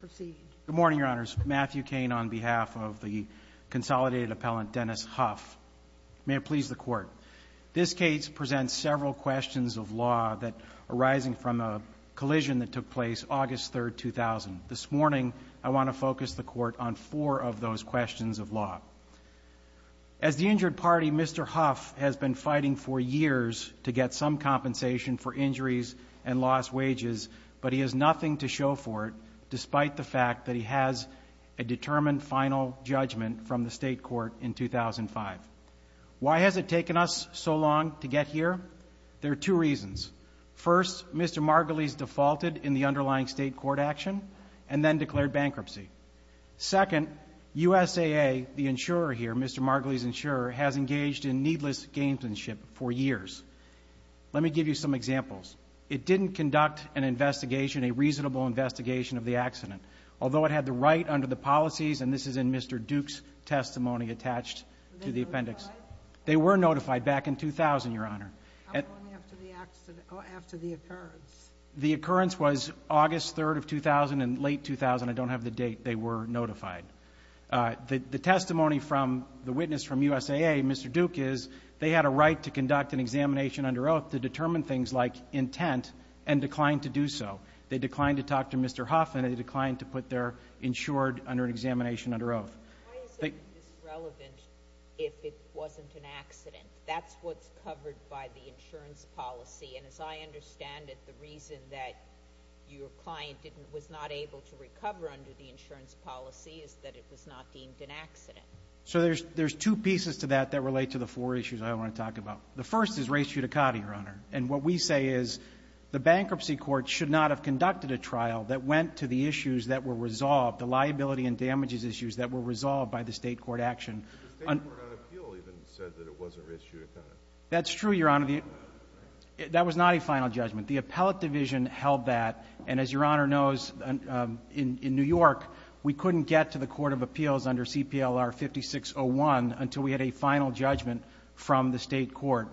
Good morning, Your Honors. Matthew Cain on behalf of the Consolidated Appellant, Dennis Huff. May it please the Court, this case presents several questions of law arising from a collision that took place August 3, 2000. This morning, I want to focus the Court on four of those questions of law. As the injured party, Mr. Huff has been fighting for years to get some compensation for injuries and lost wages, but he has nothing to show for it, despite the fact that he has a determined final judgment from the State Court in 2005. Why has it taken us so long to get here? There are two reasons. First, Mr. Margulies defaulted in the underlying State Court action and then declared bankruptcy. Second, USAA, the insurer here, Mr. Margulies' insurer, has engaged in needless gamesmanship for years. Let me give you some examples. It didn't conduct an investigation, a reasonable investigation of the accident, although it had the right under the policies, and this is in Mr. Duke's testimony attached to the appendix. They were notified back in 2000, Your Honor. How long after the occurrence? The occurrence was August 3, 2000, and late 2000, I don't have the date, they were notified. The testimony from the witness from USAA, Mr. Duke, is they had a right to conduct an examination under oath to determine things like intent and declined to do so. They declined to talk to Mr. Huff, and they declined to put their insured under an examination under oath. Why is it disrelevant if it wasn't an accident? That's what's covered by the insurance policy, and as I understand it, the reason that your client was not able to recover under the insurance policy is that it was not deemed an accident. So there's two pieces to that that relate to the four issues I want to talk about. The first is race judicata, Your Honor, and what we say is the bankruptcy court should not have conducted a trial that went to the issues that were resolved, the liability and damages issues that were resolved by the state court action. The state court on appeal even said that it wasn't race judicata. That's true, Your Honor. That was not a final judgment. The appellate division held that, and as Your Honor knows, in New York, we couldn't get to the Court of Appeals under CPLR 5601 until we had a final judgment from the state court.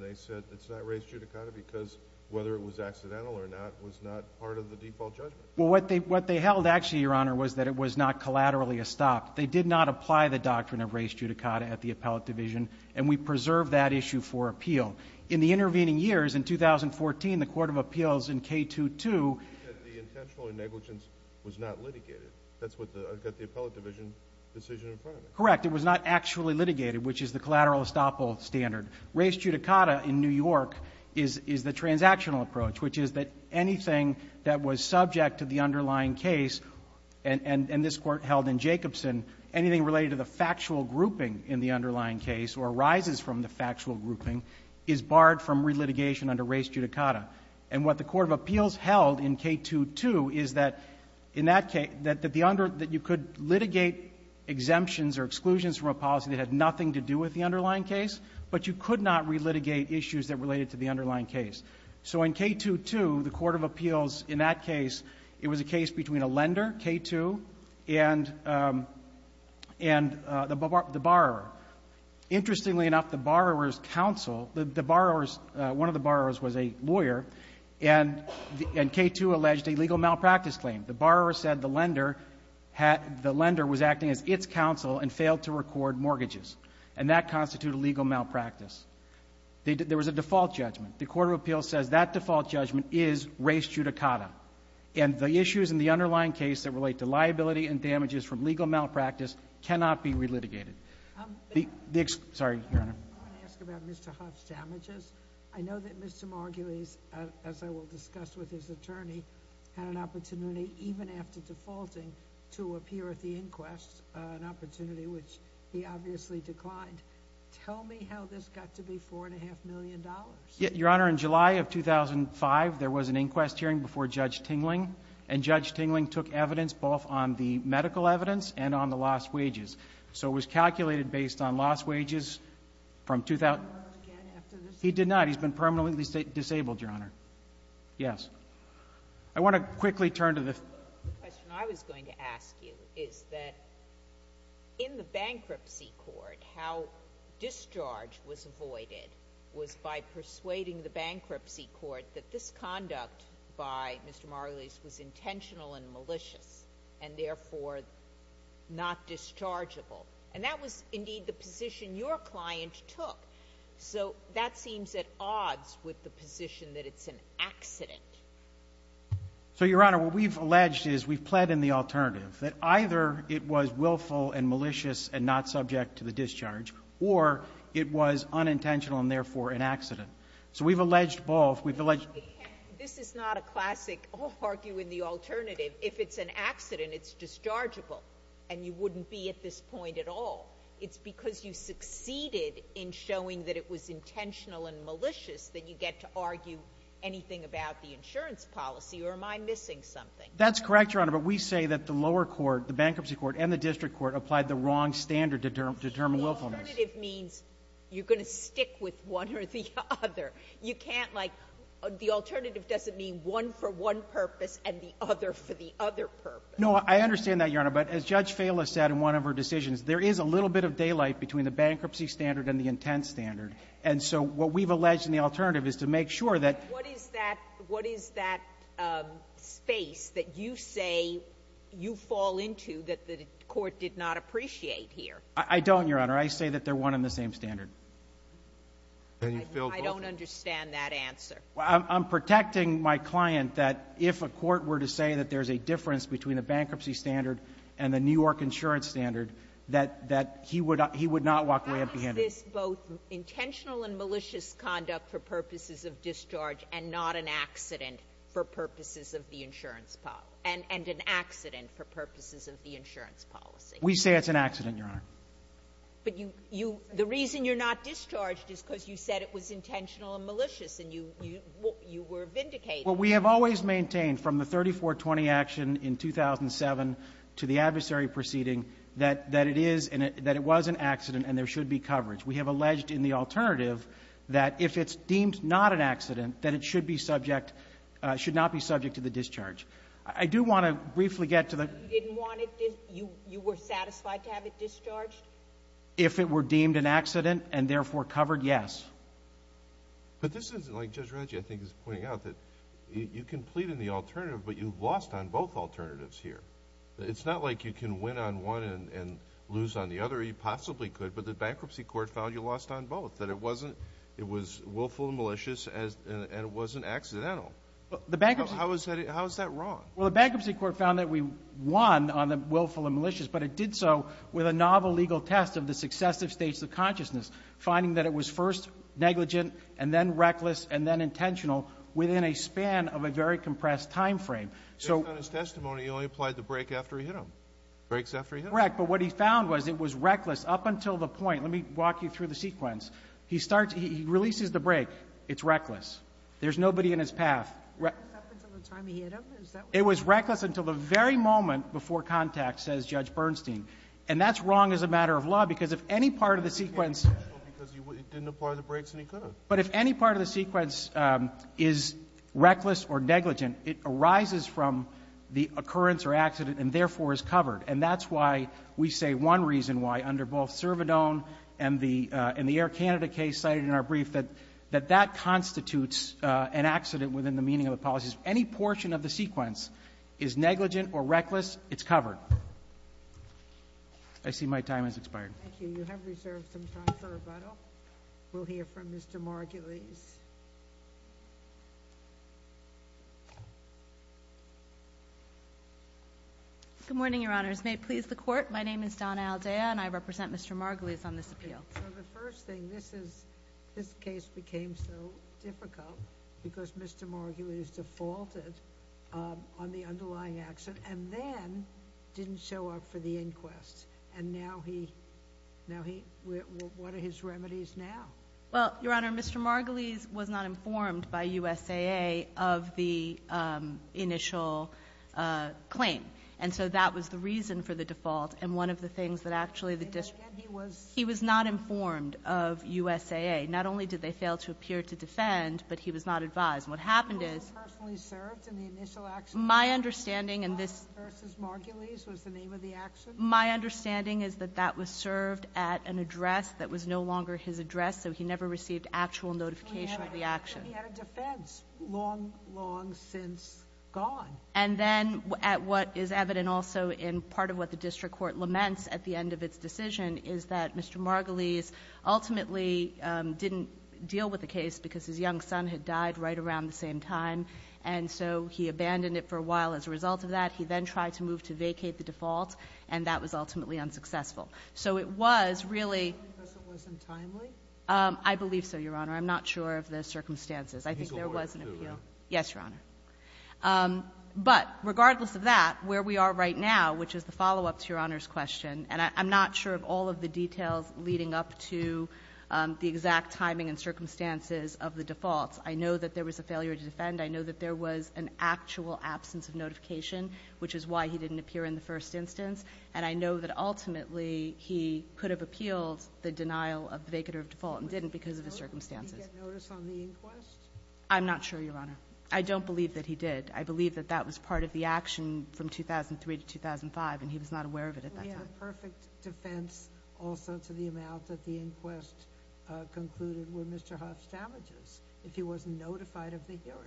They said it's not race judicata because whether it was accidental or not was not part of the default judgment. Well, what they held actually, Your Honor, was that it was not collaterally a stop. They did not apply the doctrine of race judicata at the appellate division, and we preserved that issue for appeal. In the intervening years, in 2014, the Court of Appeals in K22 ---- You said the intentional negligence was not litigated. That's what the appellate division decision in front of it. Correct. It was not actually litigated, which is the collateral estoppel standard. Race judicata in New York is the transactional approach, which is that anything that was subject to the underlying case and this Court held in Jacobson, anything related to the factual grouping in the underlying case or arises from the factual grouping is barred from relitigation under race judicata. And what the Court of Appeals held in K22 is that in that case, that you could litigate exemptions or exclusions from a policy that had nothing to do with the underlying case, but you could not relitigate issues that related to the underlying case. So in K22, the Court of Appeals in that case, it was a case between a lender, K2, and the borrower. Interestingly enough, the borrower's counsel, the borrower's ---- one of the borrowers was a lawyer, and K2 alleged a legal malpractice claim. The borrower said the lender was acting as its counsel and failed to record mortgages, and that constituted legal malpractice. There was a default judgment. The Court of Appeals says that default judgment is race judicata, and the issues in the underlying case that relate to liability and damages from legal malpractice cannot be relitigated. The ---- Sorry, Your Honor. I want to ask about Mr. Huff's damages. I know that Mr. Margulies, as I will discuss with his attorney, had an opportunity even after defaulting to appear at the inquest, an opportunity which he obviously declined. Tell me how this got to be $4.5 million. Your Honor, in July of 2005, there was an inquest hearing before Judge Tingling, and Judge Tingling took evidence both on the medical evidence and on the lost wages. So it was calculated based on lost wages from ---- He did not. He's been permanently disabled, Your Honor. Yes. I want to quickly turn to the ---- The question I was going to ask you is that in the bankruptcy court, how discharge was avoided was by persuading the bankruptcy court that this conduct by Mr. Margulies was intentional and malicious, and therefore not dischargeable. And that was, indeed, the position your client took. So that seems at odds with the position that it's an accident. So, Your Honor, what we've alleged is we've pled in the alternative, that either it was willful and malicious and not subject to the discharge, or it was unintentional and, therefore, an accident. So we've alleged both. We've alleged ---- This is not a classic argue in the alternative. If it's an accident, it's dischargeable, and you wouldn't be at this point at all. It's because you succeeded in showing that it was intentional and malicious that you get to argue anything about the insurance policy, or am I missing something? That's correct, Your Honor. But we say that the lower court, the bankruptcy court, and the district court applied the wrong standard to determine willfulness. The alternative means you're going to stick with one or the other. You can't like ---- the alternative doesn't mean one for one purpose and the other for the other purpose. No, I understand that, Your Honor. But as Judge Fala said in one of her decisions, there is a little bit of daylight between the bankruptcy standard and the intent standard. And so what we've alleged in the alternative is to make sure that ---- But what is that space that you say you fall into that the court did not appreciate here? I don't, Your Honor. I say that they're one and the same standard. And you feel both ---- I don't understand that answer. I'm protecting my client that if a court were to say that there's a difference between the bankruptcy standard and the New York insurance standard, that he would not walk away empty-handed. Well, it's this both intentional and malicious conduct for purposes of discharge and not an accident for purposes of the insurance policy. And an accident for purposes of the insurance policy. We say it's an accident, Your Honor. But you ---- the reason you're not discharged is because you said it was intentional and malicious and you were vindicated. Well, we have always maintained from the 3420 action in 2007 to the adversary proceeding that it is and that it was an accident and there should be coverage. We have alleged in the alternative that if it's deemed not an accident, that it should be subject ---- should not be subject to the discharge. I do want to briefly get to the ---- You didn't want it ---- you were satisfied to have it discharged? If it were deemed an accident and, therefore, covered, yes. But this isn't like Judge Reggie, I think, is pointing out, that you can plead in the alternative, but you've lost on both alternatives here. It's not like you can win on one and lose on the other. You possibly could, but the bankruptcy court found you lost on both, that it wasn't ---- it was willful and malicious and it wasn't accidental. The bankruptcy ---- How is that wrong? Well, the bankruptcy court found that we won on the willful and malicious, but it did so with a novel legal test of the successive states of consciousness, finding that it was first negligent and then reckless and then intentional within a span of a very compressed time frame. Based on his testimony, he only applied the brake after he hit him. Brakes after he hit him. Correct. But what he found was it was reckless up until the point. Let me walk you through the sequence. He starts to ---- he releases the brake. It's reckless. There's nobody in his path. Up until the time he hit him? It was reckless until the very moment before contact, says Judge Bernstein. And that's wrong as a matter of law, because if any part of the sequence ---- Because he didn't apply the brakes and he couldn't. But if any part of the sequence is reckless or negligent, it arises from the occurrence or accident and therefore is covered. And that's why we say one reason why, under both Servadone and the Air Canada case cited in our brief, that that constitutes an accident within the meaning of the policies. Any portion of the sequence is negligent or reckless, it's covered. I see my time has expired. Thank you. You have reserved some time for rebuttal. We'll hear from Mr. Margulies. Good morning, Your Honors. May it please the Court, my name is Donna Aldea and I represent Mr. Margulies on this appeal. So the first thing, this is ---- this case became so difficult because Mr. Margulies defaulted on the underlying accident and then didn't show up for the inquest. And now he ---- now he ---- what are his remedies now? Well, Your Honor, Mr. Margulies was not informed by USAA of the initial claim. And so that was the reason for the default. And one of the things that actually the district ---- And again, he was ---- He was not informed of USAA. Not only did they fail to appear to defend, but he was not advised. And what happened is ---- He wasn't personally served in the initial accident. My understanding in this ---- Margulies was the name of the accident. My understanding is that that was served at an address that was no longer his address, so he never received actual notification of the action. So he had a defense long, long since gone. And then at what is evident also in part of what the district court laments at the end of its decision is that Mr. Margulies ultimately didn't deal with the case because his young son had died right around the same time. And so he abandoned it for a while as a result of that. He then tried to move to vacate the default. And that was ultimately unsuccessful. So it was really ---- Because it wasn't timely? I believe so, Your Honor. I'm not sure of the circumstances. I think there was an appeal. He's a lawyer, too, right? Yes, Your Honor. But regardless of that, where we are right now, which is the follow-up to Your Honor's question, and I'm not sure of all of the details leading up to the exact timing and circumstances of the defaults. I know that there was a failure to defend. I know that there was an actual absence of notification, which is why he didn't appear in the first instance. And I know that ultimately he could have appealed the denial of the vacater of default and didn't because of the circumstances. Did he get notice on the inquest? I'm not sure, Your Honor. I don't believe that he did. I believe that that was part of the action from 2003 to 2005, and he was not aware of it at that time. We have a perfect defense also to the amount that the inquest concluded were Mr. Huff's damages if he wasn't notified of the hearing.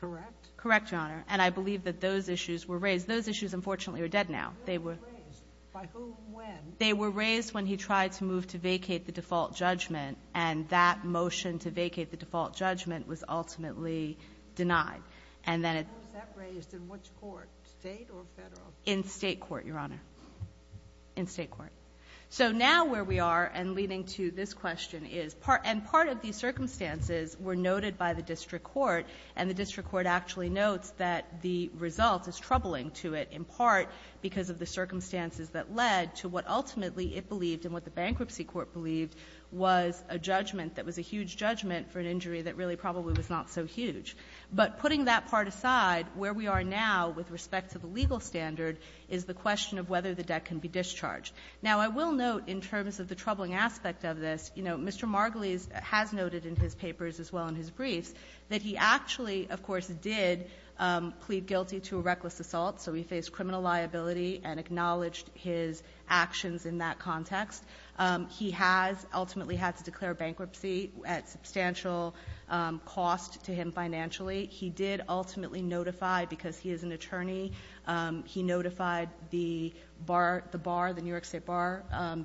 Correct? Correct, Your Honor. And I believe that those issues were raised. Those issues, unfortunately, are dead now. They were raised. By whom? When? They were raised when he tried to move to vacate the default judgment, and that motion to vacate the default judgment was ultimately denied. How was that raised? In which court? State or federal? In state court, Your Honor. In state court. So now where we are, and leading to this question, is part of these circumstances were noted by the district court, and the district court actually notes that the result is troubling to it in part because of the circumstances that led to what ultimately it believed and what the bankruptcy court believed was a judgment that was a huge judgment for an injury that really probably was not so huge. But putting that part aside, where we are now with respect to the legal standard is the question of whether the debt can be discharged. Now, I will note in terms of the troubling aspect of this, you know, Mr. Margulies has noted in his papers as well in his briefs that he actually, of course, did plead guilty to a reckless assault. So he faced criminal liability and acknowledged his actions in that context. He has ultimately had to declare bankruptcy at substantial cost to him financially. He did ultimately notify, because he is an attorney, he notified the bar, the New York State bar,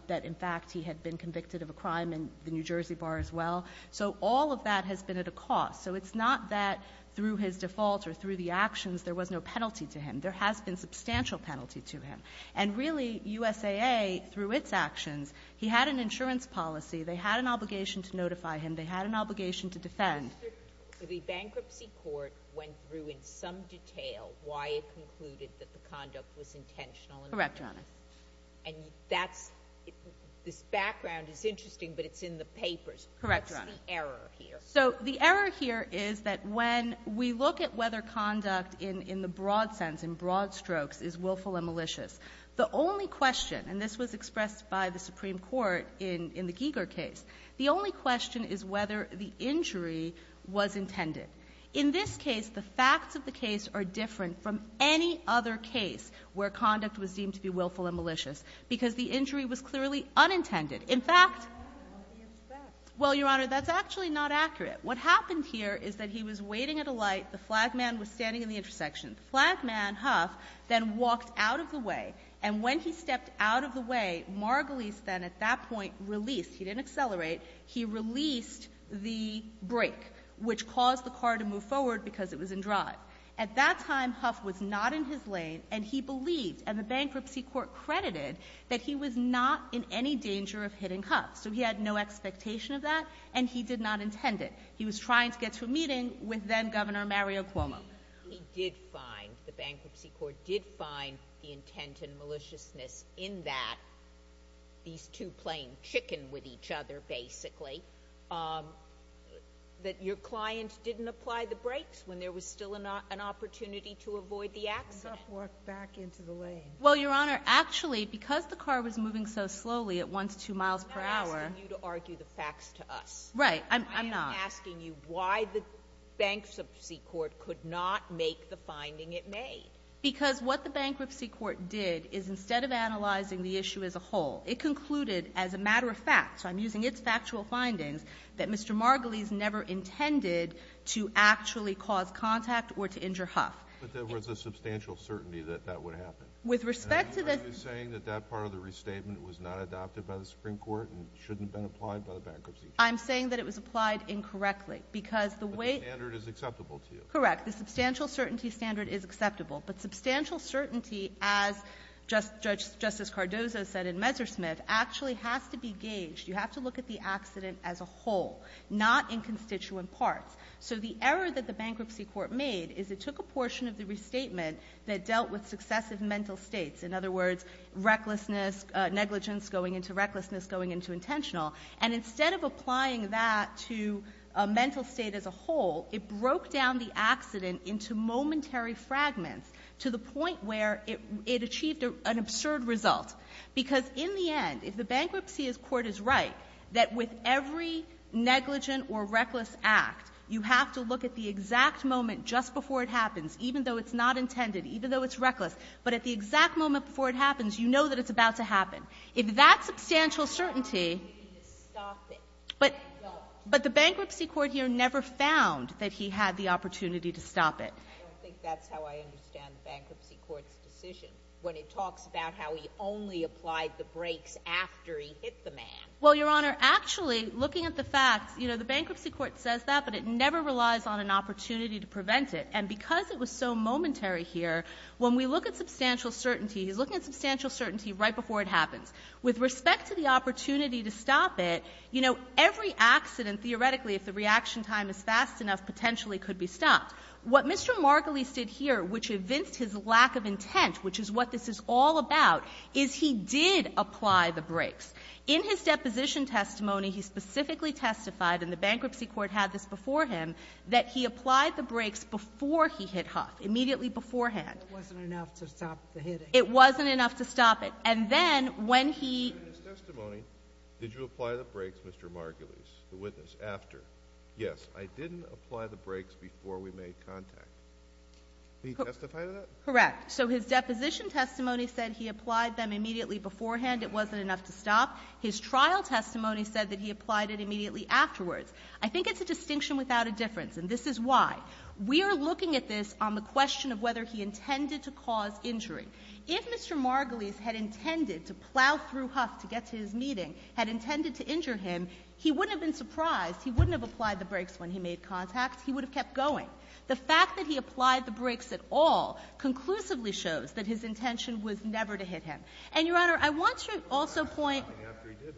that, in fact, he had been convicted of a crime in the New Jersey bar as well. So all of that has been at a cost. So it's not that through his default or through the actions there was no penalty to him. There has been substantial penalty to him. And really, USAA, through its actions, he had an insurance policy. They had an obligation to notify him. They had an obligation to defend. The bankruptcy court went through in some detail why it concluded that the conduct was intentional. Correct, Your Honor. And this background is interesting, but it's in the papers. Correct, Your Honor. What's the error here? So the error here is that when we look at whether conduct in the broad sense, in broad strokes, is willful and malicious, the only question, and this was expressed by the Supreme Court in the Giger case, the only question is whether the injury was intended. In this case, the facts of the case are different from any other case where conduct was deemed to be willful and malicious, because the injury was clearly unintended. In fact, well, Your Honor, that's actually not accurate. What happened here is that he was waiting at a light. The flag man was standing in the intersection. The flag man, Huff, then walked out of the way. And when he stepped out of the way, Margulies then at that point released. He didn't accelerate. He released the brake, which caused the car to move forward because it was in drive. At that time, Huff was not in his lane, and he believed, and the bankruptcy court credited that he was not in any danger of hitting Huff. So he had no expectation of that, and he did not intend it. He was trying to get to a meeting with then-Governor Mario Cuomo. He did find, the bankruptcy court did find the intent and maliciousness in that these two playing chicken with each other, basically, that your client didn't apply the brakes when there was still an opportunity to avoid the accident. Huff walked back into the lane. Well, Your Honor, actually, because the car was moving so slowly at once two miles per hour I'm not asking you to argue the facts to us. Right. I'm not. I am asking you why the bankruptcy court could not make the finding it made. Because what the bankruptcy court did is instead of analyzing the issue as a whole, it concluded as a matter of fact, so I'm using its factual findings, that Mr. Margolies never intended to actually cause contact or to injure Huff. But there was a substantial certainty that that would happen. With respect to the — Are you saying that that part of the restatement was not adopted by the Supreme Court and shouldn't have been applied by the bankruptcy court? I'm saying that it was applied incorrectly because the way — But the standard is acceptable to you. Correct. The substantial certainty standard is acceptable. But substantial certainty, as Justice Cardozo said in Messersmith, actually has to be gauged. You have to look at the accident as a whole, not in constituent parts. So the error that the bankruptcy court made is it took a portion of the restatement that dealt with successive mental states. In other words, recklessness, negligence going into recklessness going into intentional. And instead of applying that to a mental state as a whole, it broke down the accident into momentary fragments to the point where it achieved an absurd result. Because in the end, if the bankruptcy court is right that with every negligent or reckless act, you have to look at the exact moment just before it happens, even though it's not intended, even though it's reckless. But at the exact moment before it happens, you know that it's about to happen. If that substantial certainty — You need to stop it. No. But the bankruptcy court here never found that he had the opportunity to stop it. I don't think that's how I understand the bankruptcy court's decision, when it talks about how he only applied the brakes after he hit the man. Well, Your Honor, actually, looking at the facts, you know, the bankruptcy court says that, but it never relies on an opportunity to prevent it. And because it was so momentary here, when we look at substantial certainty, he's looking at substantial certainty right before it happens. With respect to the opportunity to stop it, you know, every accident, theoretically, if the reaction time is fast enough, potentially could be stopped. What Mr. Margolis did here, which evinced his lack of intent, which is what this is all about, is he did apply the brakes. In his deposition testimony, he specifically testified, and the bankruptcy court had this before him, that he applied the brakes before he hit Huff, immediately beforehand. It wasn't enough to stop the hitting. It wasn't enough to stop it. And then when he ---- In his testimony, did you apply the brakes, Mr. Margolis, the witness, after? Yes. I didn't apply the brakes before we made contact. Did he testify to that? Correct. So his deposition testimony said he applied them immediately beforehand. It wasn't enough to stop. His trial testimony said that he applied it immediately afterwards. I think it's a distinction without a difference, and this is why. We are looking at this on the question of whether he intended to cause injury. If Mr. Margolis had intended to plow through Huff to get to his meeting, had intended to injure him, he wouldn't have been surprised. He wouldn't have applied the brakes when he made contact. He would have kept going. The fact that he applied the brakes at all conclusively shows that his intention was never to hit him. And, Your Honor, I want to also point ----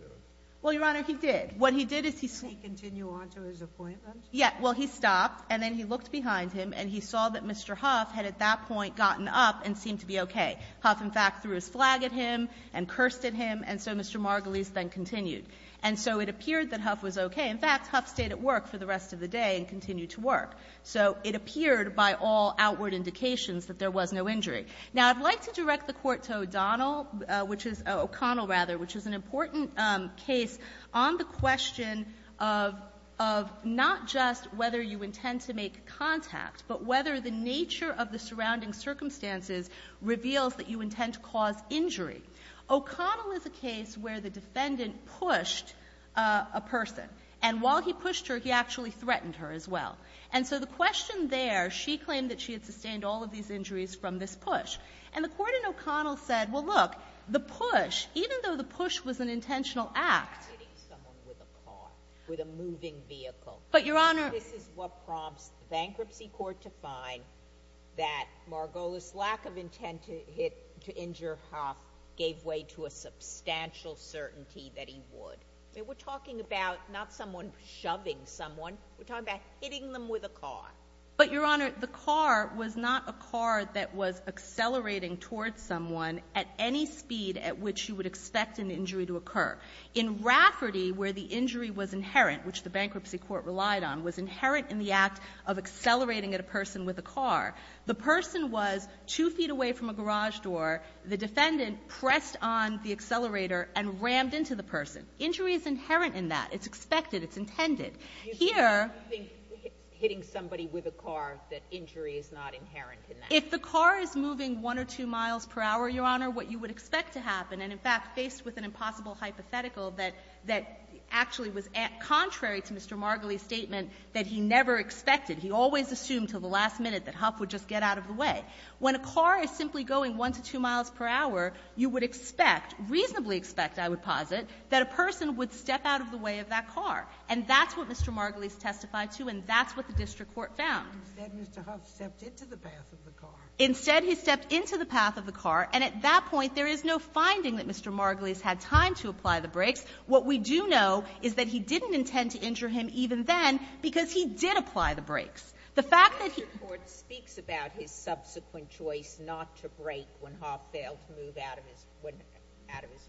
Well, Your Honor, he did. What he did is he ---- Did he continue on to his appointment? Yes. Well, he stopped, and then he looked behind him, and he saw that Mr. Huff had at that point gotten up and seemed to be okay. Huff, in fact, threw his flag at him and cursed at him. And so Mr. Margolis then continued. And so it appeared that Huff was okay. In fact, Huff stayed at work for the rest of the day and continued to work. So it appeared by all outward indications that there was no injury. Now, I'd like to direct the Court to O'Donnell, which is ---- O'Connell, rather, which is an important case on the question of not just whether you intend to make contact, but whether the nature of the surrounding circumstances reveals that you intend to cause injury. O'Connell is a case where the defendant pushed a person, and while he pushed her, he actually threatened her as well. And so the question there, she claimed that she had sustained all of these injuries from this push. And the Court in O'Connell said, well, look, the push, even though the push was an intentional act ---- Hitting someone with a car, with a moving vehicle. But, Your Honor ---- This is what prompts the Bankruptcy Court to find that Margolis' lack of intent to hit, to injure Huff gave way to a substantial certainty that he would. We're talking about not someone shoving someone. We're talking about hitting them with a car. But, Your Honor, the car was not a car that was accelerating towards someone at any speed at which you would expect an injury to occur. In Rafferty, where the injury was inherent, which the Bankruptcy Court relied on, it was inherent in the act of accelerating at a person with a car. The person was two feet away from a garage door. The defendant pressed on the accelerator and rammed into the person. Injury is inherent in that. It's expected. It's intended. Here ---- You think hitting somebody with a car, that injury is not inherent in that? If the car is moving one or two miles per hour, Your Honor, what you would expect to happen, and in fact, faced with an impossible hypothetical that actually was contrary to Mr. Margulies' statement that he never expected, he always assumed until the last minute that Huff would just get out of the way. When a car is simply going one to two miles per hour, you would expect, reasonably expect, I would posit, that a person would step out of the way of that car. And that's what Mr. Margulies testified to, and that's what the district court found. Ginsburg. Instead, Mr. Huff stepped into the path of the car. Instead, he stepped into the path of the car. And at that point, there is no finding that Mr. Margulies had time to apply the brakes. What we do know is that he didn't intend to injure him even then, because he did apply the brakes. The fact that he ---- The district court speaks about his subsequent choice not to brake when Huff failed to move out of his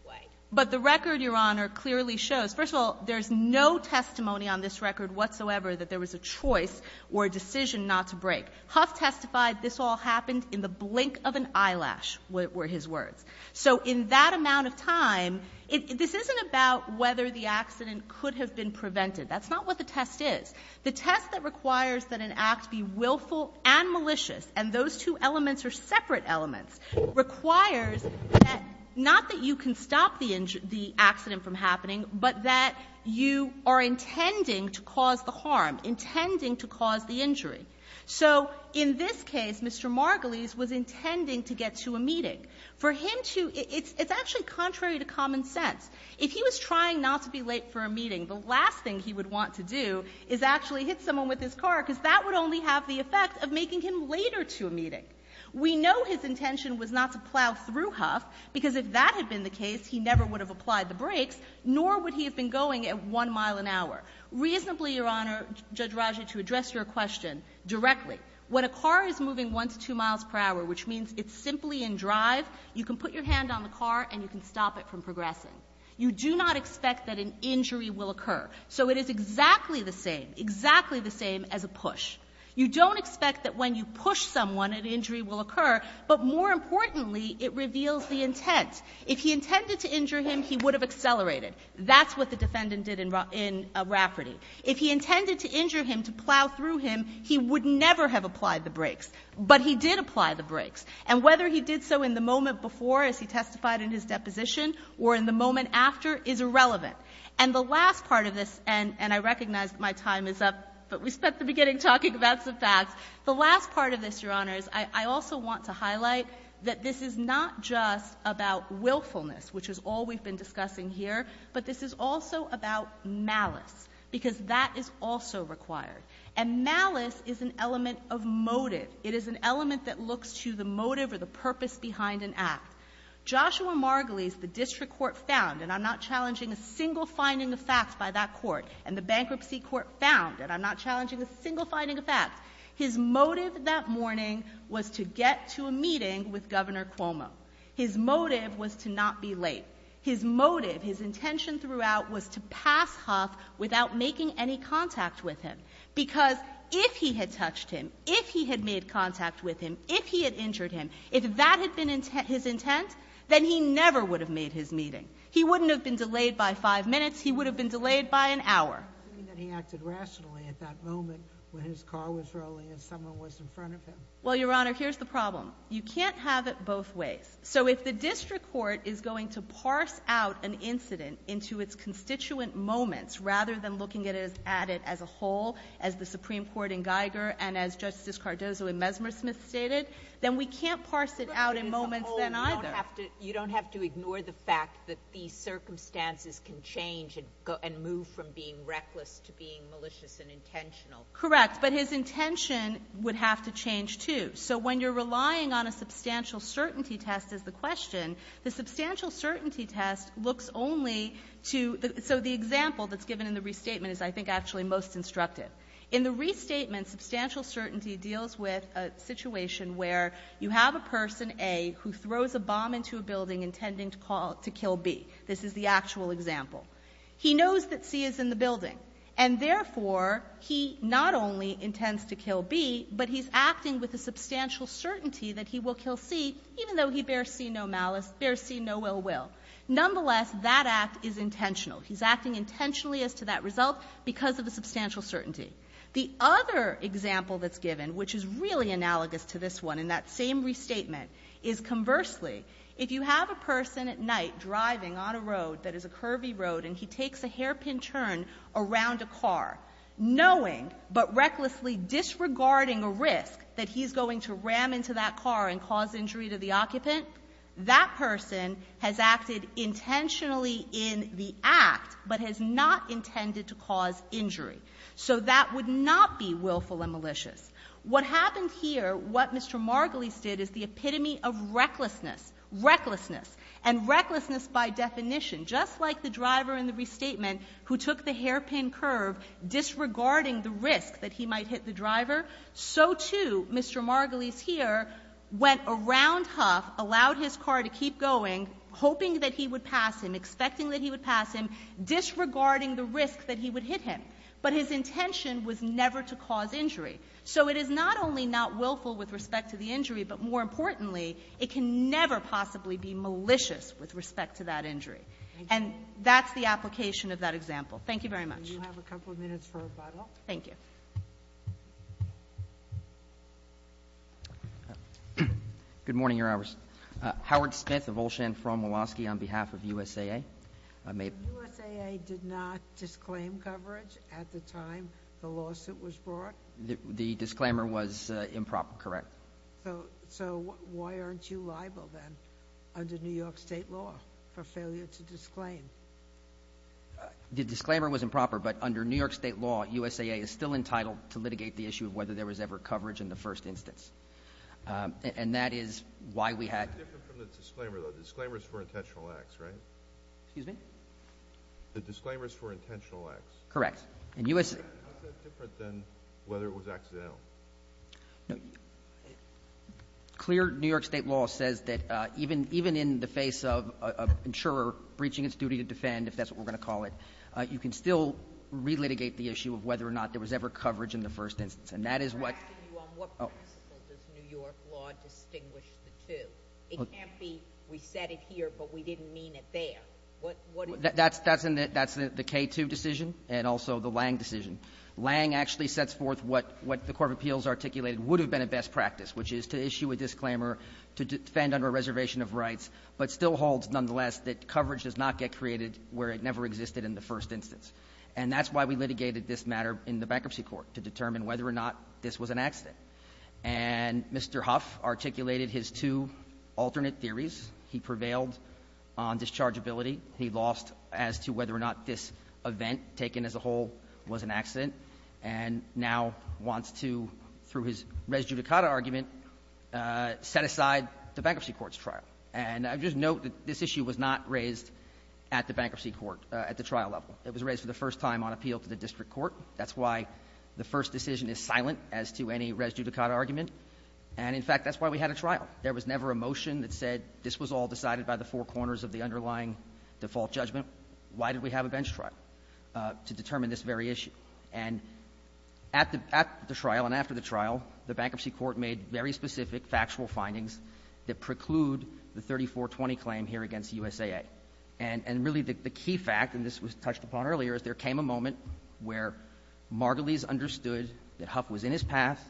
way. But the record, Your Honor, clearly shows. First of all, there's no testimony on this record whatsoever that there was a choice or a decision not to brake. Huff testified this all happened in the blink of an eyelash were his words. So in that amount of time, this isn't about whether the accident could have been prevented. That's not what the test is. The test that requires that an act be willful and malicious, and those two elements are separate elements, requires that not that you can stop the accident from happening, but that you are intending to cause the harm, intending to cause the injury. So in this case, Mr. Margulies was intending to get to a meeting. For him to ---- it's actually contrary to common sense. If he was trying not to be late for a meeting, the last thing he would want to do is actually hit someone with his car, because that would only have the effect of making him later to a meeting. We know his intention was not to plow through Huff, because if that had been the case, he never would have applied the brakes, nor would he have been going at 1 mile an hour. Reasonably, Your Honor, Judge Ragi, to address your question directly, when a car is moving once 2 miles per hour, which means it's simply in drive, you can put your hand on the car and you can stop it from progressing. You do not expect that an injury will occur. So it is exactly the same, exactly the same as a push. You don't expect that when you push someone an injury will occur, but more importantly, it reveals the intent. If he intended to injure him, he would have accelerated. That's what the defendant did in Rafferty. If he intended to injure him, to plow through him, he would never have applied the brakes, but he did apply the brakes. And whether he did so in the moment before, as he testified in his deposition, or in the moment after, is irrelevant. And the last part of this, and I recognize my time is up, but we spent the beginning talking about some facts. The last part of this, Your Honors, I also want to highlight that this is not just about willfulness, which is all we've been discussing here, but this is also about malice, because that is also required. And malice is an element of motive. It is an element that looks to the motive or the purpose behind an act. Joshua Margulies, the district court found, and I'm not challenging a single finding of facts by that court, and the bankruptcy court found, and I'm not challenging a single finding of facts. His motive that morning was to get to a meeting with Governor Cuomo. His motive was to not be late. His motive, his intention throughout, was to pass Huff without making any contact with him, because if he had touched him, if he had made contact with him, if he had injured him, if that had been his intent, then he never would have made his meeting. He wouldn't have been delayed by five minutes. He would have been delayed by an hour. He acted rationally at that moment when his car was rolling and someone was in front of him. Well, Your Honor, here's the problem. You can't have it both ways. So if the district court is going to parse out an incident into its constituent moments, rather than looking at it as a whole, as the Supreme Court in Geiger and as Justice Cardozo in Mesmersmith stated, then we can't parse it out in moments then either. But as a whole, you don't have to ignore the fact that these circumstances can change and move from being reckless to being malicious and intentional. Correct. But his intention would have to change, too. So when you're relying on a substantial certainty test, is the question, the substantial certainty test, is the question, is the question, is the question, the question Now, the example that's given in the restatement is, I think, actually most instructive. In the restatement, substantial certainty deals with a situation where you have a person, A, who throws a bomb into a building intending to call to kill B. This is the actual example. He knows that C is in the building, and therefore he not only intends to kill B, but he's acting with a substantial certainty that he will kill C, even though he bears C no malice, bears C no ill will. Nonetheless, that act is intentional. He's acting intentionally as to that result because of the substantial certainty. The other example that's given, which is really analogous to this one in that same restatement, is conversely, if you have a person at night driving on a road that is a curvy road and he takes a hairpin turn around a car, knowing but recklessly disregarding a risk that he's going to ram into that car and cause injury to the occupant, that person has acted intentionally in the act but has not intended to cause injury. So that would not be willful and malicious. What happened here, what Mr. Margolis did, is the epitome of recklessness, recklessness, and recklessness by definition. Just like the driver in the restatement who took the hairpin curve disregarding the risk that he might hit the driver, so, too, Mr. Margolis here went around Huff, allowed his car to keep going, hoping that he would pass him, expecting that he would pass him, disregarding the risk that he would hit him. But his intention was never to cause injury. So it is not only not willful with respect to the injury, but more importantly, it can never possibly be malicious with respect to that injury. And that's the application of that example. Thank you very much. And you have a couple of minutes for rebuttal. Thank you. Good morning, Your Honors. Howard Smith of Olshan from Woloski on behalf of USAA. USAA did not disclaim coverage at the time the lawsuit was brought? The disclaimer was improper, correct. So why aren't you liable then under New York State law for failure to disclaim? The disclaimer was improper, but under New York State law, USAA is still entitled to litigate the issue of whether there was ever coverage in the first instance. And that is why we had – It's different from the disclaimer, though. The disclaimer is for intentional acts, right? Excuse me? The disclaimer is for intentional acts. Correct. And US – How is that different than whether it was accidental? Clear New York State law says that even in the face of an insurer breaching its duty to defend, if that's what we're going to call it, you can still relitigate the issue of whether or not there was ever coverage in the first instance. And that is what – I'm asking you on what principle does New York law distinguish the two? It can't be we said it here, but we didn't mean it there. That's the K2 decision and also the Lange decision. Lange actually sets forth what the Court of Appeals articulated would have been a best practice, which is to issue a disclaimer to defend under a reservation of rights but still holds nonetheless that coverage does not get created where it never existed in the first instance. And that's why we litigated this matter in the Bankruptcy Court, to determine whether or not this was an accident. And Mr. Huff articulated his two alternate theories. He prevailed on dischargeability. He lost as to whether or not this event taken as a whole was an accident, and now wants to, through his res judicata argument, set aside the Bankruptcy Court's trial. And I just note that this issue was not raised at the Bankruptcy Court at the trial level. It was raised for the first time on appeal to the district court. That's why the first decision is silent as to any res judicata argument. And, in fact, that's why we had a trial. There was never a motion that said this was all decided by the four corners of the underlying default judgment. Why did we have a bench trial? To determine this very issue. And at the trial and after the trial, the Bankruptcy Court made very specific factual findings that preclude the 3420 claim here against USAA. And really the key fact, and this was touched upon earlier, is there came a moment where Margulies understood that Huff was in his path,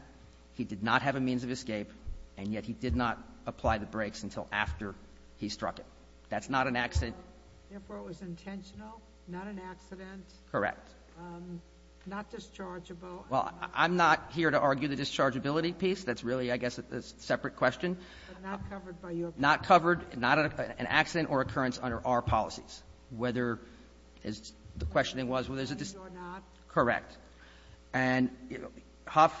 he did not have a means of escape, and yet he did not apply the brakes until after he struck it. That's not an accident. Therefore, it was intentional, not an accident? Correct. Not dischargeable? Well, I'm not here to argue the dischargeability piece. That's really, I guess, a separate question. But not covered by your policy? Not covered. Not an accident or occurrence under our policies. Whether, as the question was, whether it's a dischargeable or not. Correct. And Huff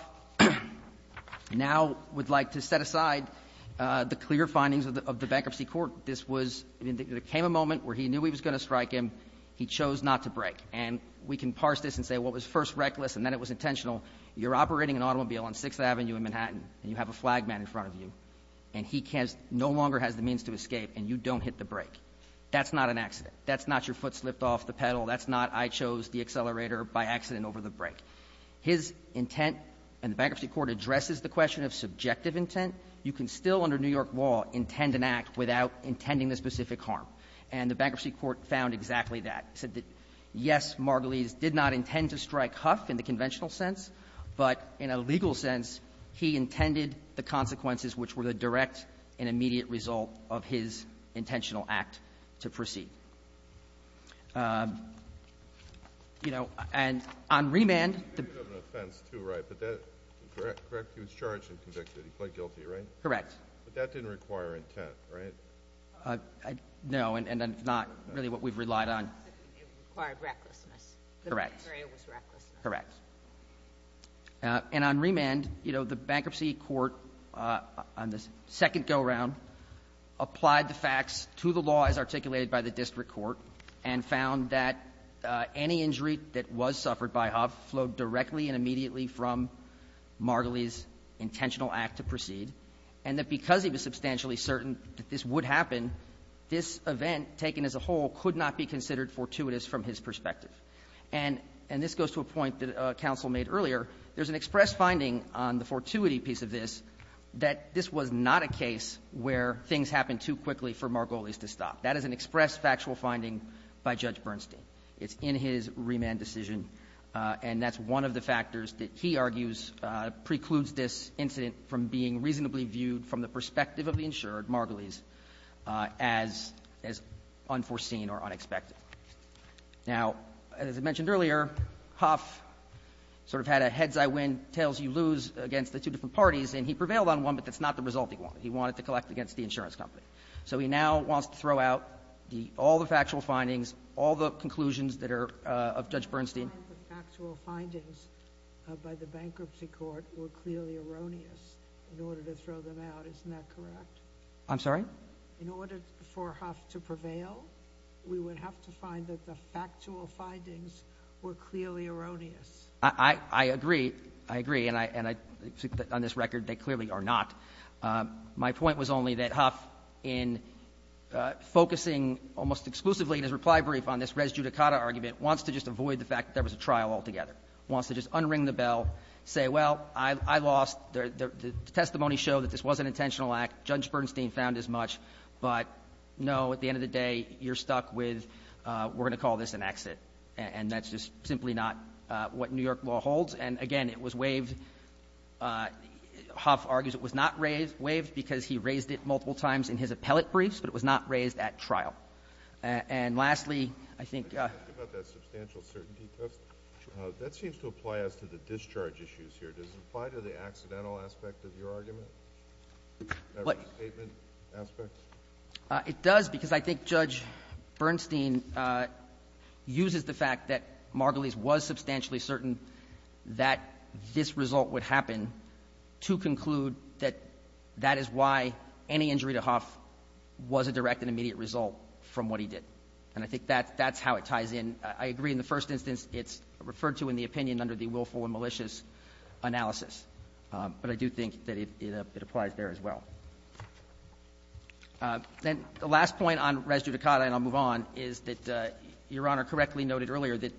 now would like to set aside the clear findings of the Bankruptcy Court. This was, there came a moment where he knew he was going to strike him. He chose not to brake. And we can parse this and say, well, it was first reckless and then it was intentional. You're operating an automobile on 6th Avenue in Manhattan, and you have a flag man in front of you, and he no longer has the means to escape, and you don't hit the brake. That's not an accident. That's not your foot slipped off the pedal. That's not I chose the accelerator by accident over the brake. His intent in the Bankruptcy Court addresses the question of subjective intent. You can still, under New York law, intend an act without intending the specific harm. And the Bankruptcy Court found exactly that. It said that, yes, Margulies did not intend to strike Huff in the conventional sense, but in a legal sense, he intended the consequences which were the direct and immediate result of his intentional act to proceed. You know, and on remand... He did have an offense, too, right? But that, correct? He was charged and convicted. He pled guilty, right? Correct. But that didn't require intent, right? No, and that's not really what we've relied on. It required recklessness. Correct. Correct. And on remand, you know, the Bankruptcy Court, on the second go-around, applied the facts to the law as articulated by the district court and found that any injury that was suffered by Huff flowed directly and immediately from Margulies' intentional act to proceed, and that because he was substantially certain that this would happen, this event, taken as a whole, could not be considered fortuitous from his perspective. And this goes to a point that counsel made earlier. There's an express finding on the fortuity piece of this that this was not a case where things happened too quickly for Margulies to stop. That is an express factual finding by Judge Bernstein. It's in his remand decision, and that's one of the factors that he argues precludes this incident from being reasonably viewed from the perspective of the insured, Margulies, as unforeseen or unexpected. Now, as I mentioned earlier, Huff sort of had a heads-I-win, tails-you-lose against the two different parties, and he prevailed on one, but that's not the resulting conclusion he wanted. He wanted to collect against the insurance company. So he now wants to throw out all the factual findings, all the conclusions that are of Judge Bernstein. Sotomayor, the factual findings by the bankruptcy court were clearly erroneous in order to throw them out. Isn't that correct? I'm sorry? In order for Huff to prevail, we would have to find that the factual findings were clearly erroneous. I agree. I agree. And on this record, they clearly are not. My point was only that Huff, in focusing almost exclusively in his reply brief on this res judicata argument, wants to just avoid the fact that there was a trial altogether, wants to just unring the bell, say, well, I lost. The testimony showed that this was an intentional act. Judge Bernstein found as much. But, no, at the end of the day, you're stuck with we're going to call this an exit, and that's just simply not what New York law holds. And, again, it was waived. Huff argues it was not waived because he raised it multiple times in his appellate briefs, but it was not raised at trial. And, lastly, I think the other question. That seems to apply as to the discharge issues here. Does it apply to the accidental aspect of your argument? The statement aspect? It does, because I think Judge Bernstein uses the fact that Margolies was substantially certain that this result would happen to conclude that that is why any injury to Huff was a direct and immediate result from what he did. And I think that's how it ties in. I agree in the first instance it's referred to in the opinion under the willful and malicious analysis. But I do think that it applies there as well. Then the last point on res judicata, and I'll move on, is that Your Honor correctly noted earlier that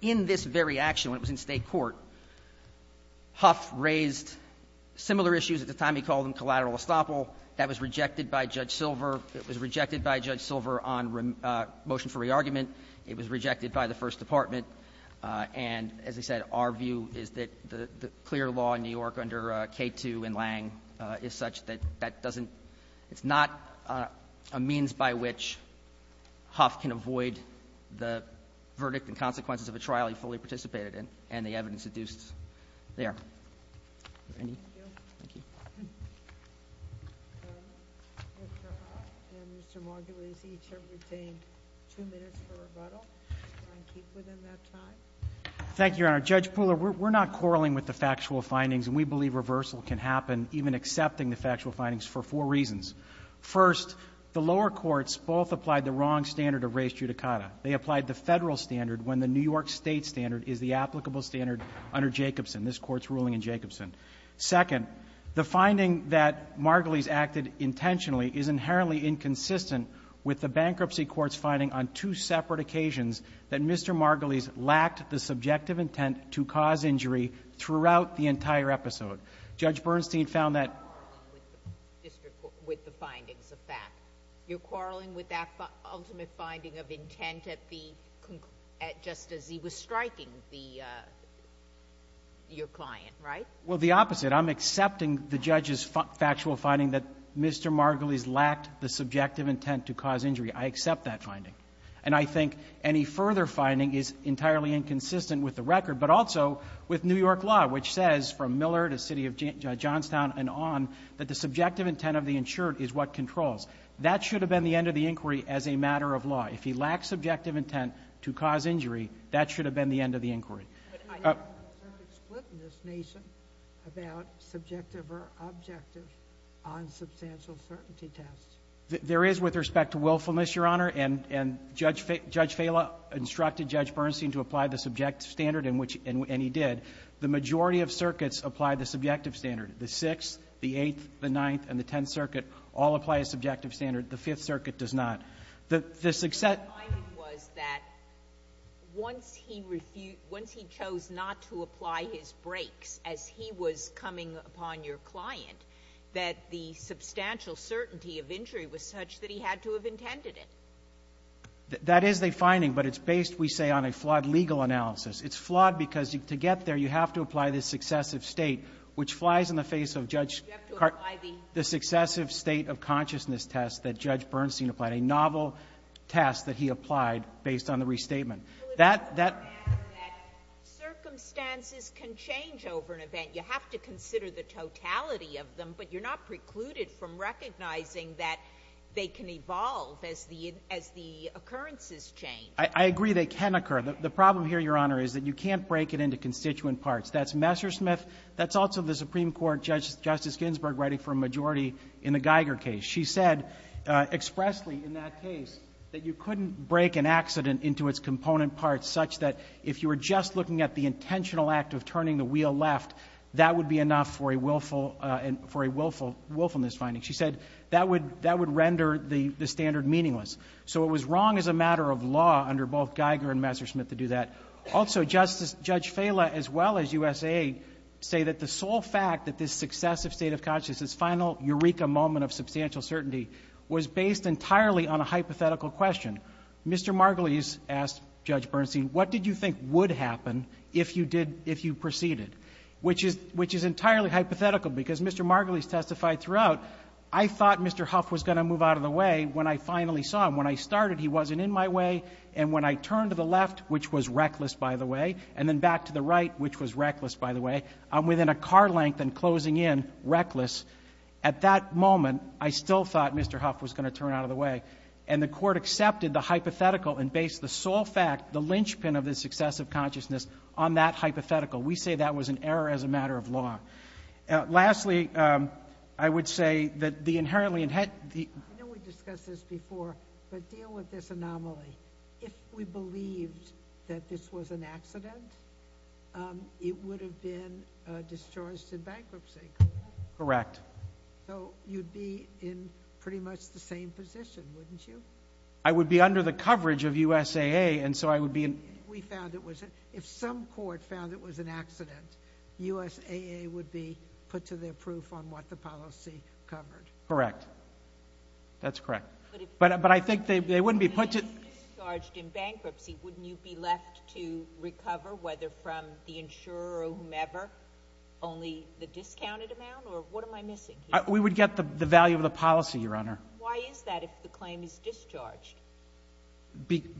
in this very action, when it was in State court, Huff raised similar issues. At the time he called them collateral estoppel. That was rejected by Judge Silver. It was rejected by Judge Silver on motion for re-argument. It was rejected by the First Department. And, as I said, our view is that the clear law in New York under K2 and Lange is such that that doesn't — it's not a means by which Huff can avoid the verdict and consequences of a trial he fully participated in and the evidence adduced there. Thank you. Thank you. Mr. Huff and Mr. Margolies each have retained two minutes for rebuttal. Do you mind keeping them that time? Thank you, Your Honor. Judge Pooler, we're not quarreling with the factual findings, and we believe reversal can happen even accepting the factual findings for four reasons. First, the lower courts both applied the wrong standard of res judicata. They applied the Federal standard when the New York State standard is the applicable standard under Jacobson, this Court's ruling in Jacobson. Second, the finding that Margolies acted intentionally is inherently inconsistent with the bankruptcy court's finding on two separate occasions that Mr. Margolies lacked the subjective intent to cause injury throughout the entire episode. Judge Bernstein found that — You're not quarreling with the findings of fact. You're quarreling with that ultimate finding of intent at the — just as he was striking the — your client, right? Well, the opposite. I'm accepting the judge's factual finding that Mr. Margolies lacked the subjective intent to cause injury. I accept that finding. And I think any further finding is entirely inconsistent with the record, but also with New York law, which says from Miller to City of Johnstown and on that the subjective intent of the insured is what controls. That should have been the end of the inquiry as a matter of law. If he lacked subjective intent to cause injury, that should have been the end of the inquiry. But I don't have a certain split in this nation about subjective or objective on substantial certainty tests. There is with respect to willfulness, Your Honor. And Judge Fela instructed Judge Bernstein to apply the subjective standard, and he did. The majority of circuits apply the subjective standard. The Sixth, the Eighth, the Ninth, and the Tenth Circuit all apply a subjective standard. The Fifth Circuit does not. The success — My finding was that once he refused — once he chose not to apply his breaks as he was coming upon your client, that the substantial certainty of injury was such that he had to have intended it. That is the finding, but it's based, we say, on a flawed legal analysis. It's flawed because to get there, you have to apply the successive state, which flies in the face of Judge — You have to apply the — The successive state of consciousness test that Judge Bernstein applied, a novel test that he applied based on the restatement. That — Well, it doesn't matter that circumstances can change over an event. You have to consider the totality of them, but you're not precluded from recognizing that they can evolve as the — as the occurrences change. I agree they can occur. The problem here, Your Honor, is that you can't break it into constituent parts. That's Messersmith. That's also the Supreme Court, Justice Ginsburg, writing for a majority in the Geiger case. She said expressly in that case that you couldn't break an accident into its component parts such that if you were just looking at the intentional act of turning the wheel left, that would be enough for a willful — for a willfulness finding. She said that would — that would render the — the standard meaningless. So it was wrong as a matter of law under both Geiger and Messersmith to do that. Also, Justice — Judge Fela, as well as USA, say that the sole fact that this successive state of consciousness, this final eureka moment of substantial certainty, was based entirely on a hypothetical question. Mr. Margulies asked Judge Bernstein, what did you think would happen if you did — if you proceeded, which is — which is entirely hypothetical because Mr. Margulies testified throughout. I thought Mr. Huff was going to move out of the way when I finally saw him. When I started, he wasn't in my way, and when I turned to the left, which was reckless, by the way, and then back to the right, which was reckless, by the way, I'm within a car length and closing in, reckless. At that moment, I still thought Mr. Huff was going to turn out of the way. And the Court accepted the hypothetical and based the sole fact, the linchpin of the successive consciousness, on that hypothetical. We say that was an error as a matter of law. Lastly, I would say that the inherently — I know we discussed this before, but deal with this anomaly. If we believed that this was an accident, it would have been discharged in bankruptcy, correct? Correct. So you'd be in pretty much the same position, wouldn't you? I would be under the coverage of USAA, and so I would be in — If some court found it was an accident, USAA would be put to their proof on what the policy covered. Correct. That's correct. But I think they wouldn't be put to — If it was discharged in bankruptcy, wouldn't you be left to recover, whether from the insurer or whomever, only the discounted amount, or what am I missing here? We would get the value of the policy, Your Honor. Why is that, if the claim is discharged?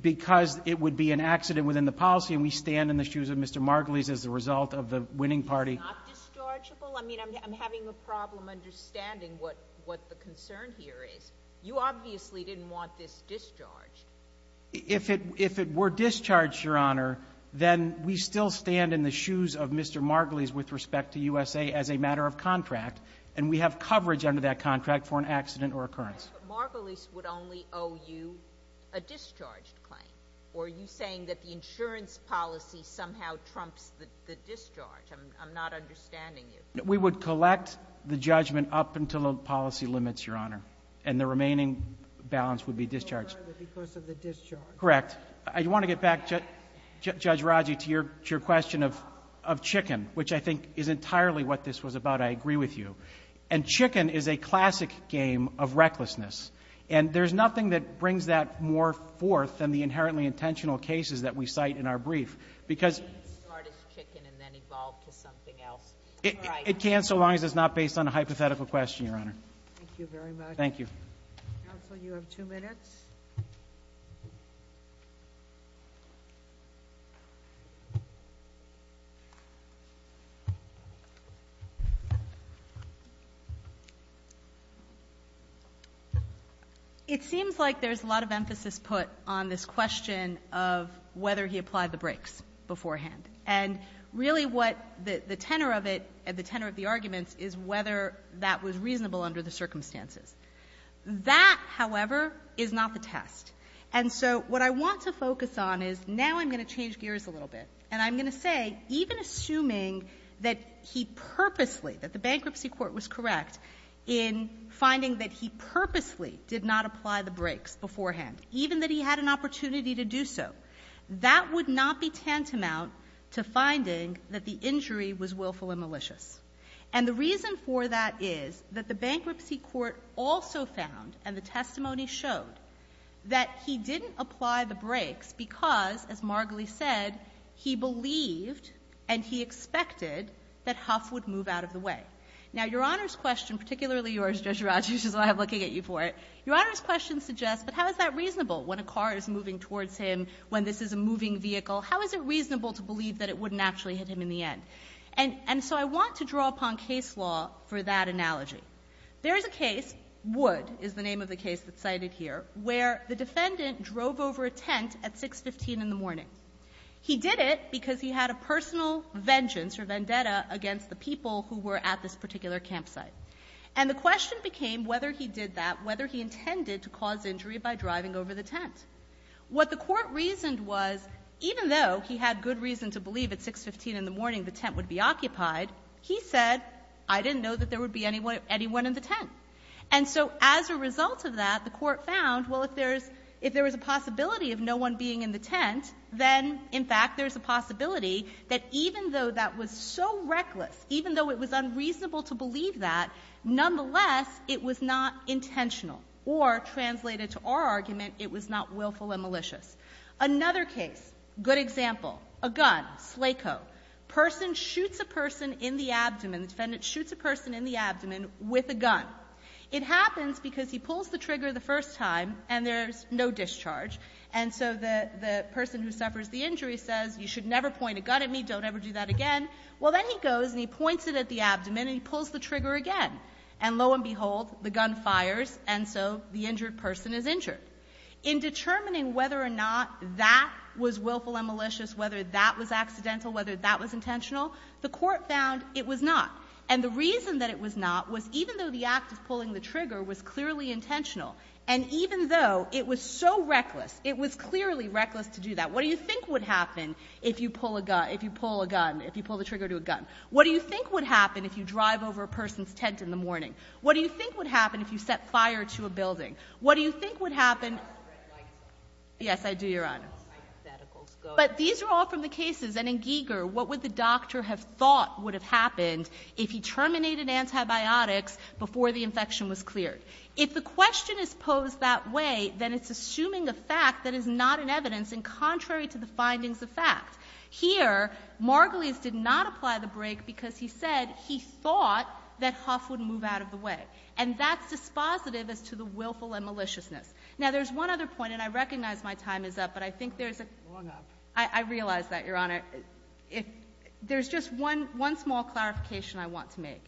Because it would be an accident within the policy, and we stand in the shoes of Mr. Margulies as a result of the winning party. It's not dischargeable? I mean, I'm having a problem understanding what the concern here is. You obviously didn't want this discharged. If it were discharged, Your Honor, then we still stand in the shoes of Mr. Margulies with respect to USAA as a matter of contract, and we have coverage under that contract for an accident or occurrence. But Mr. Margulies would only owe you a discharged claim, or are you saying that the insurance policy somehow trumps the discharge? I'm not understanding you. We would collect the judgment up until the policy limits, Your Honor, and the remaining balance would be discharged. No further because of the discharge. Correct. I want to get back, Judge Raji, to your question of chicken, which I think is entirely what this was about. I agree with you. And chicken is a classic game of recklessness, and there's nothing that brings that more forth than the inherently intentional cases that we cite in our brief. It can't start as chicken and then evolve to something else. It can so long as it's not based on a hypothetical question, Your Honor. Thank you very much. Thank you. Counsel, you have two minutes. It seems like there's a lot of emphasis put on this question of whether he applied the brakes beforehand. And really what the tenor of it, the tenor of the arguments, is whether that was reasonable under the circumstances. That, however, is not the test. And so what I want to focus on is now I'm going to change gears a little bit, and I'm going to say even assuming that he purposely, that the bankruptcy court was correct in finding that he purposely did not apply the brakes beforehand, even that he had an opportunity to do so, that would not be tantamount to finding that the injury was willful and malicious. And the reason for that is that the bankruptcy court also found, and the testimony showed, that he didn't apply the brakes because, as Margulies said, he believed and he expected that Huff would move out of the way. Now, Your Honor's question, particularly yours, Judge Raj, which is why I'm looking at you for it, Your Honor's question suggests, but how is that reasonable? When a car is moving towards him, when this is a moving vehicle, how is it reasonable to believe that it wouldn't actually hit him in the end? And so I want to draw upon case law for that analogy. There is a case, Wood is the name of the case that's cited here, where the defendant drove over a tent at 6.15 in the morning. He did it because he had a personal vengeance or vendetta against the people who were at this particular campsite. And the question became whether he did that, whether he intended to cause injury by driving over the tent. What the Court reasoned was, even though he had good reason to believe at 6.15 in the morning the tent would be occupied, he said, I didn't know that there would be anyone in the tent. And so as a result of that, the Court found, well, if there is a possibility of no one being in the tent, then, in fact, there is a possibility that even though that was so reckless, even though it was unreasonable to believe that, nonetheless, it was not intentional, or translated to our argument, it was not willful and malicious. Another case, good example, a gun, Slaco. A person shoots a person in the abdomen, the defendant shoots a person in the abdomen with a gun. It happens because he pulls the trigger the first time and there's no discharge. And so the person who suffers the injury says, you should never point a gun at me, don't ever do that again. Well, then he goes and he points it at the abdomen and he pulls the trigger again. And lo and behold, the gun fires, and so the injured person is injured. In determining whether or not that was willful and malicious, whether that was accidental, whether that was intentional, the Court found it was not. And the reason that it was not was even though the act of pulling the trigger was clearly intentional, and even though it was so reckless, it was clearly reckless to do that. What do you think would happen if you pull a gun, if you pull a gun, if you pull the trigger to a gun? What do you think would happen if you drive over a person's tent in the morning? What do you think would happen if you set fire to a building? What do you think would happen? Yes, I do, Your Honor. But these are all from the cases. And in Giger, what would the doctor have thought would have happened if he terminated antibiotics before the infection was cleared? If the question is posed that way, then it's assuming a fact that is not in evidence and contrary to the findings of fact. Here, Margulies did not apply the break because he said he thought that Huff would move out of the way. And that's dispositive as to the willful and maliciousness. Now, there's one other point, and I recognize my time is up, but I think there's I realize that, Your Honor. There's just one small clarification I want to make.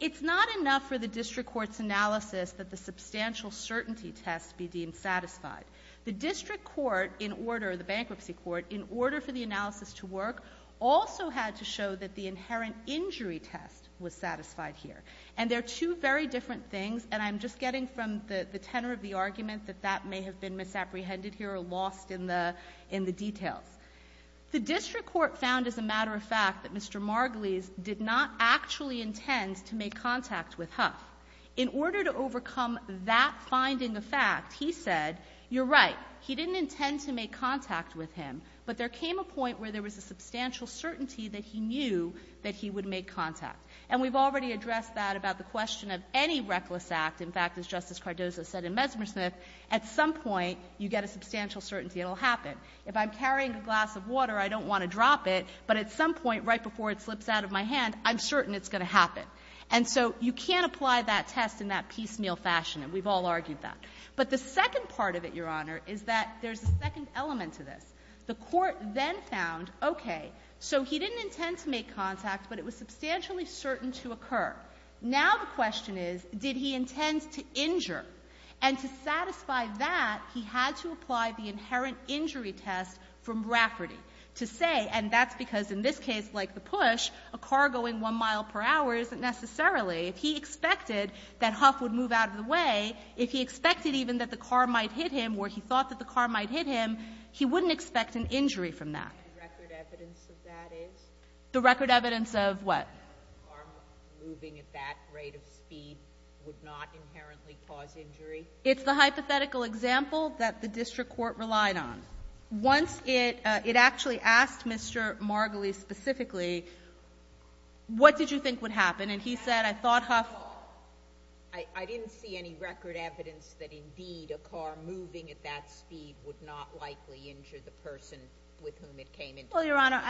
It's not enough for the district court's analysis that the substantial certainty test be deemed satisfied. The district court in order, the bankruptcy court, in order for the analysis to work also had to show that the inherent injury test was satisfied here. And they're two very different things, and I'm just getting from the tenor of the details. The district court found as a matter of fact that Mr. Margulies did not actually intend to make contact with Huff. In order to overcome that finding of fact, he said, you're right, he didn't intend to make contact with him, but there came a point where there was a substantial certainty that he knew that he would make contact. And we've already addressed that about the question of any reckless act. In fact, as Justice Cardozo said in Mesmersmith, at some point you get a substantial certainty it will happen. If I'm carrying a glass of water, I don't want to drop it, but at some point right before it slips out of my hand, I'm certain it's going to happen. And so you can't apply that test in that piecemeal fashion. And we've all argued that. But the second part of it, Your Honor, is that there's a second element to this. The court then found, okay, so he didn't intend to make contact, but it was substantially certain to occur. Now the question is, did he intend to injure? And to satisfy that, he had to apply the inherent injury test from Brafferty to say, and that's because in this case, like the push, a car going one mile per hour isn't necessarily, if he expected that Huff would move out of the way, if he expected even that the car might hit him or he thought that the car might hit him, he wouldn't expect an injury from that. The record evidence of that is? The record evidence of what? A car moving at that rate of speed would not inherently cause injury? It's the hypothetical example that the district court relied on. Once it actually asked Mr. Margolies specifically, what did you think would happen? And he said, I thought Huff... I didn't see any record evidence that indeed a car moving at that speed would not likely injure the person with whom it came into contact. Well, Your Honor,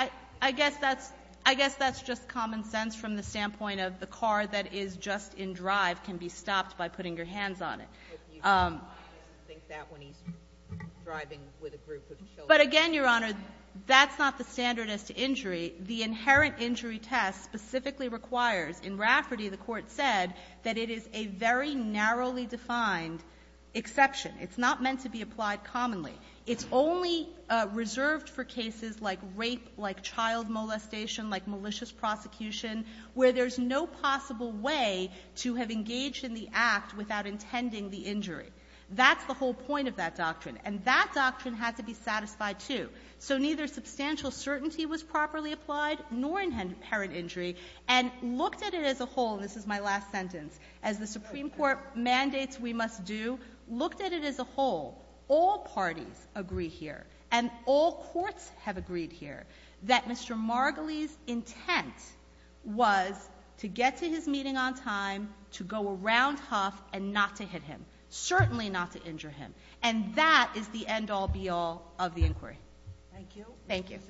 I guess that's just common sense from the standpoint of the car that is just in drive can be stopped by putting your hands on it. I think that when he's driving with a group of children. But again, Your Honor, that's not the standard as to injury. The inherent injury test specifically requires, in Rafferty the Court said, that it is a very narrowly defined exception. It's not meant to be applied commonly. It's only reserved for cases like rape, like child molestation, like malicious prosecution, where there's no possible way to have engaged in the act without intending the injury. That's the whole point of that doctrine. And that doctrine had to be satisfied, too. So neither substantial certainty was properly applied nor inherent injury. And looked at it as a whole, and this is my last sentence, as the Supreme Court mandates we must do, looked at it as a whole. All parties agree here, and all courts have agreed here, that Mr. Margolies' intent was to get to his meeting on time, to go around Huff, and not to hit him. Certainly not to injure him. And that is the end-all, be-all of the inquiry. Thank you. Thank you.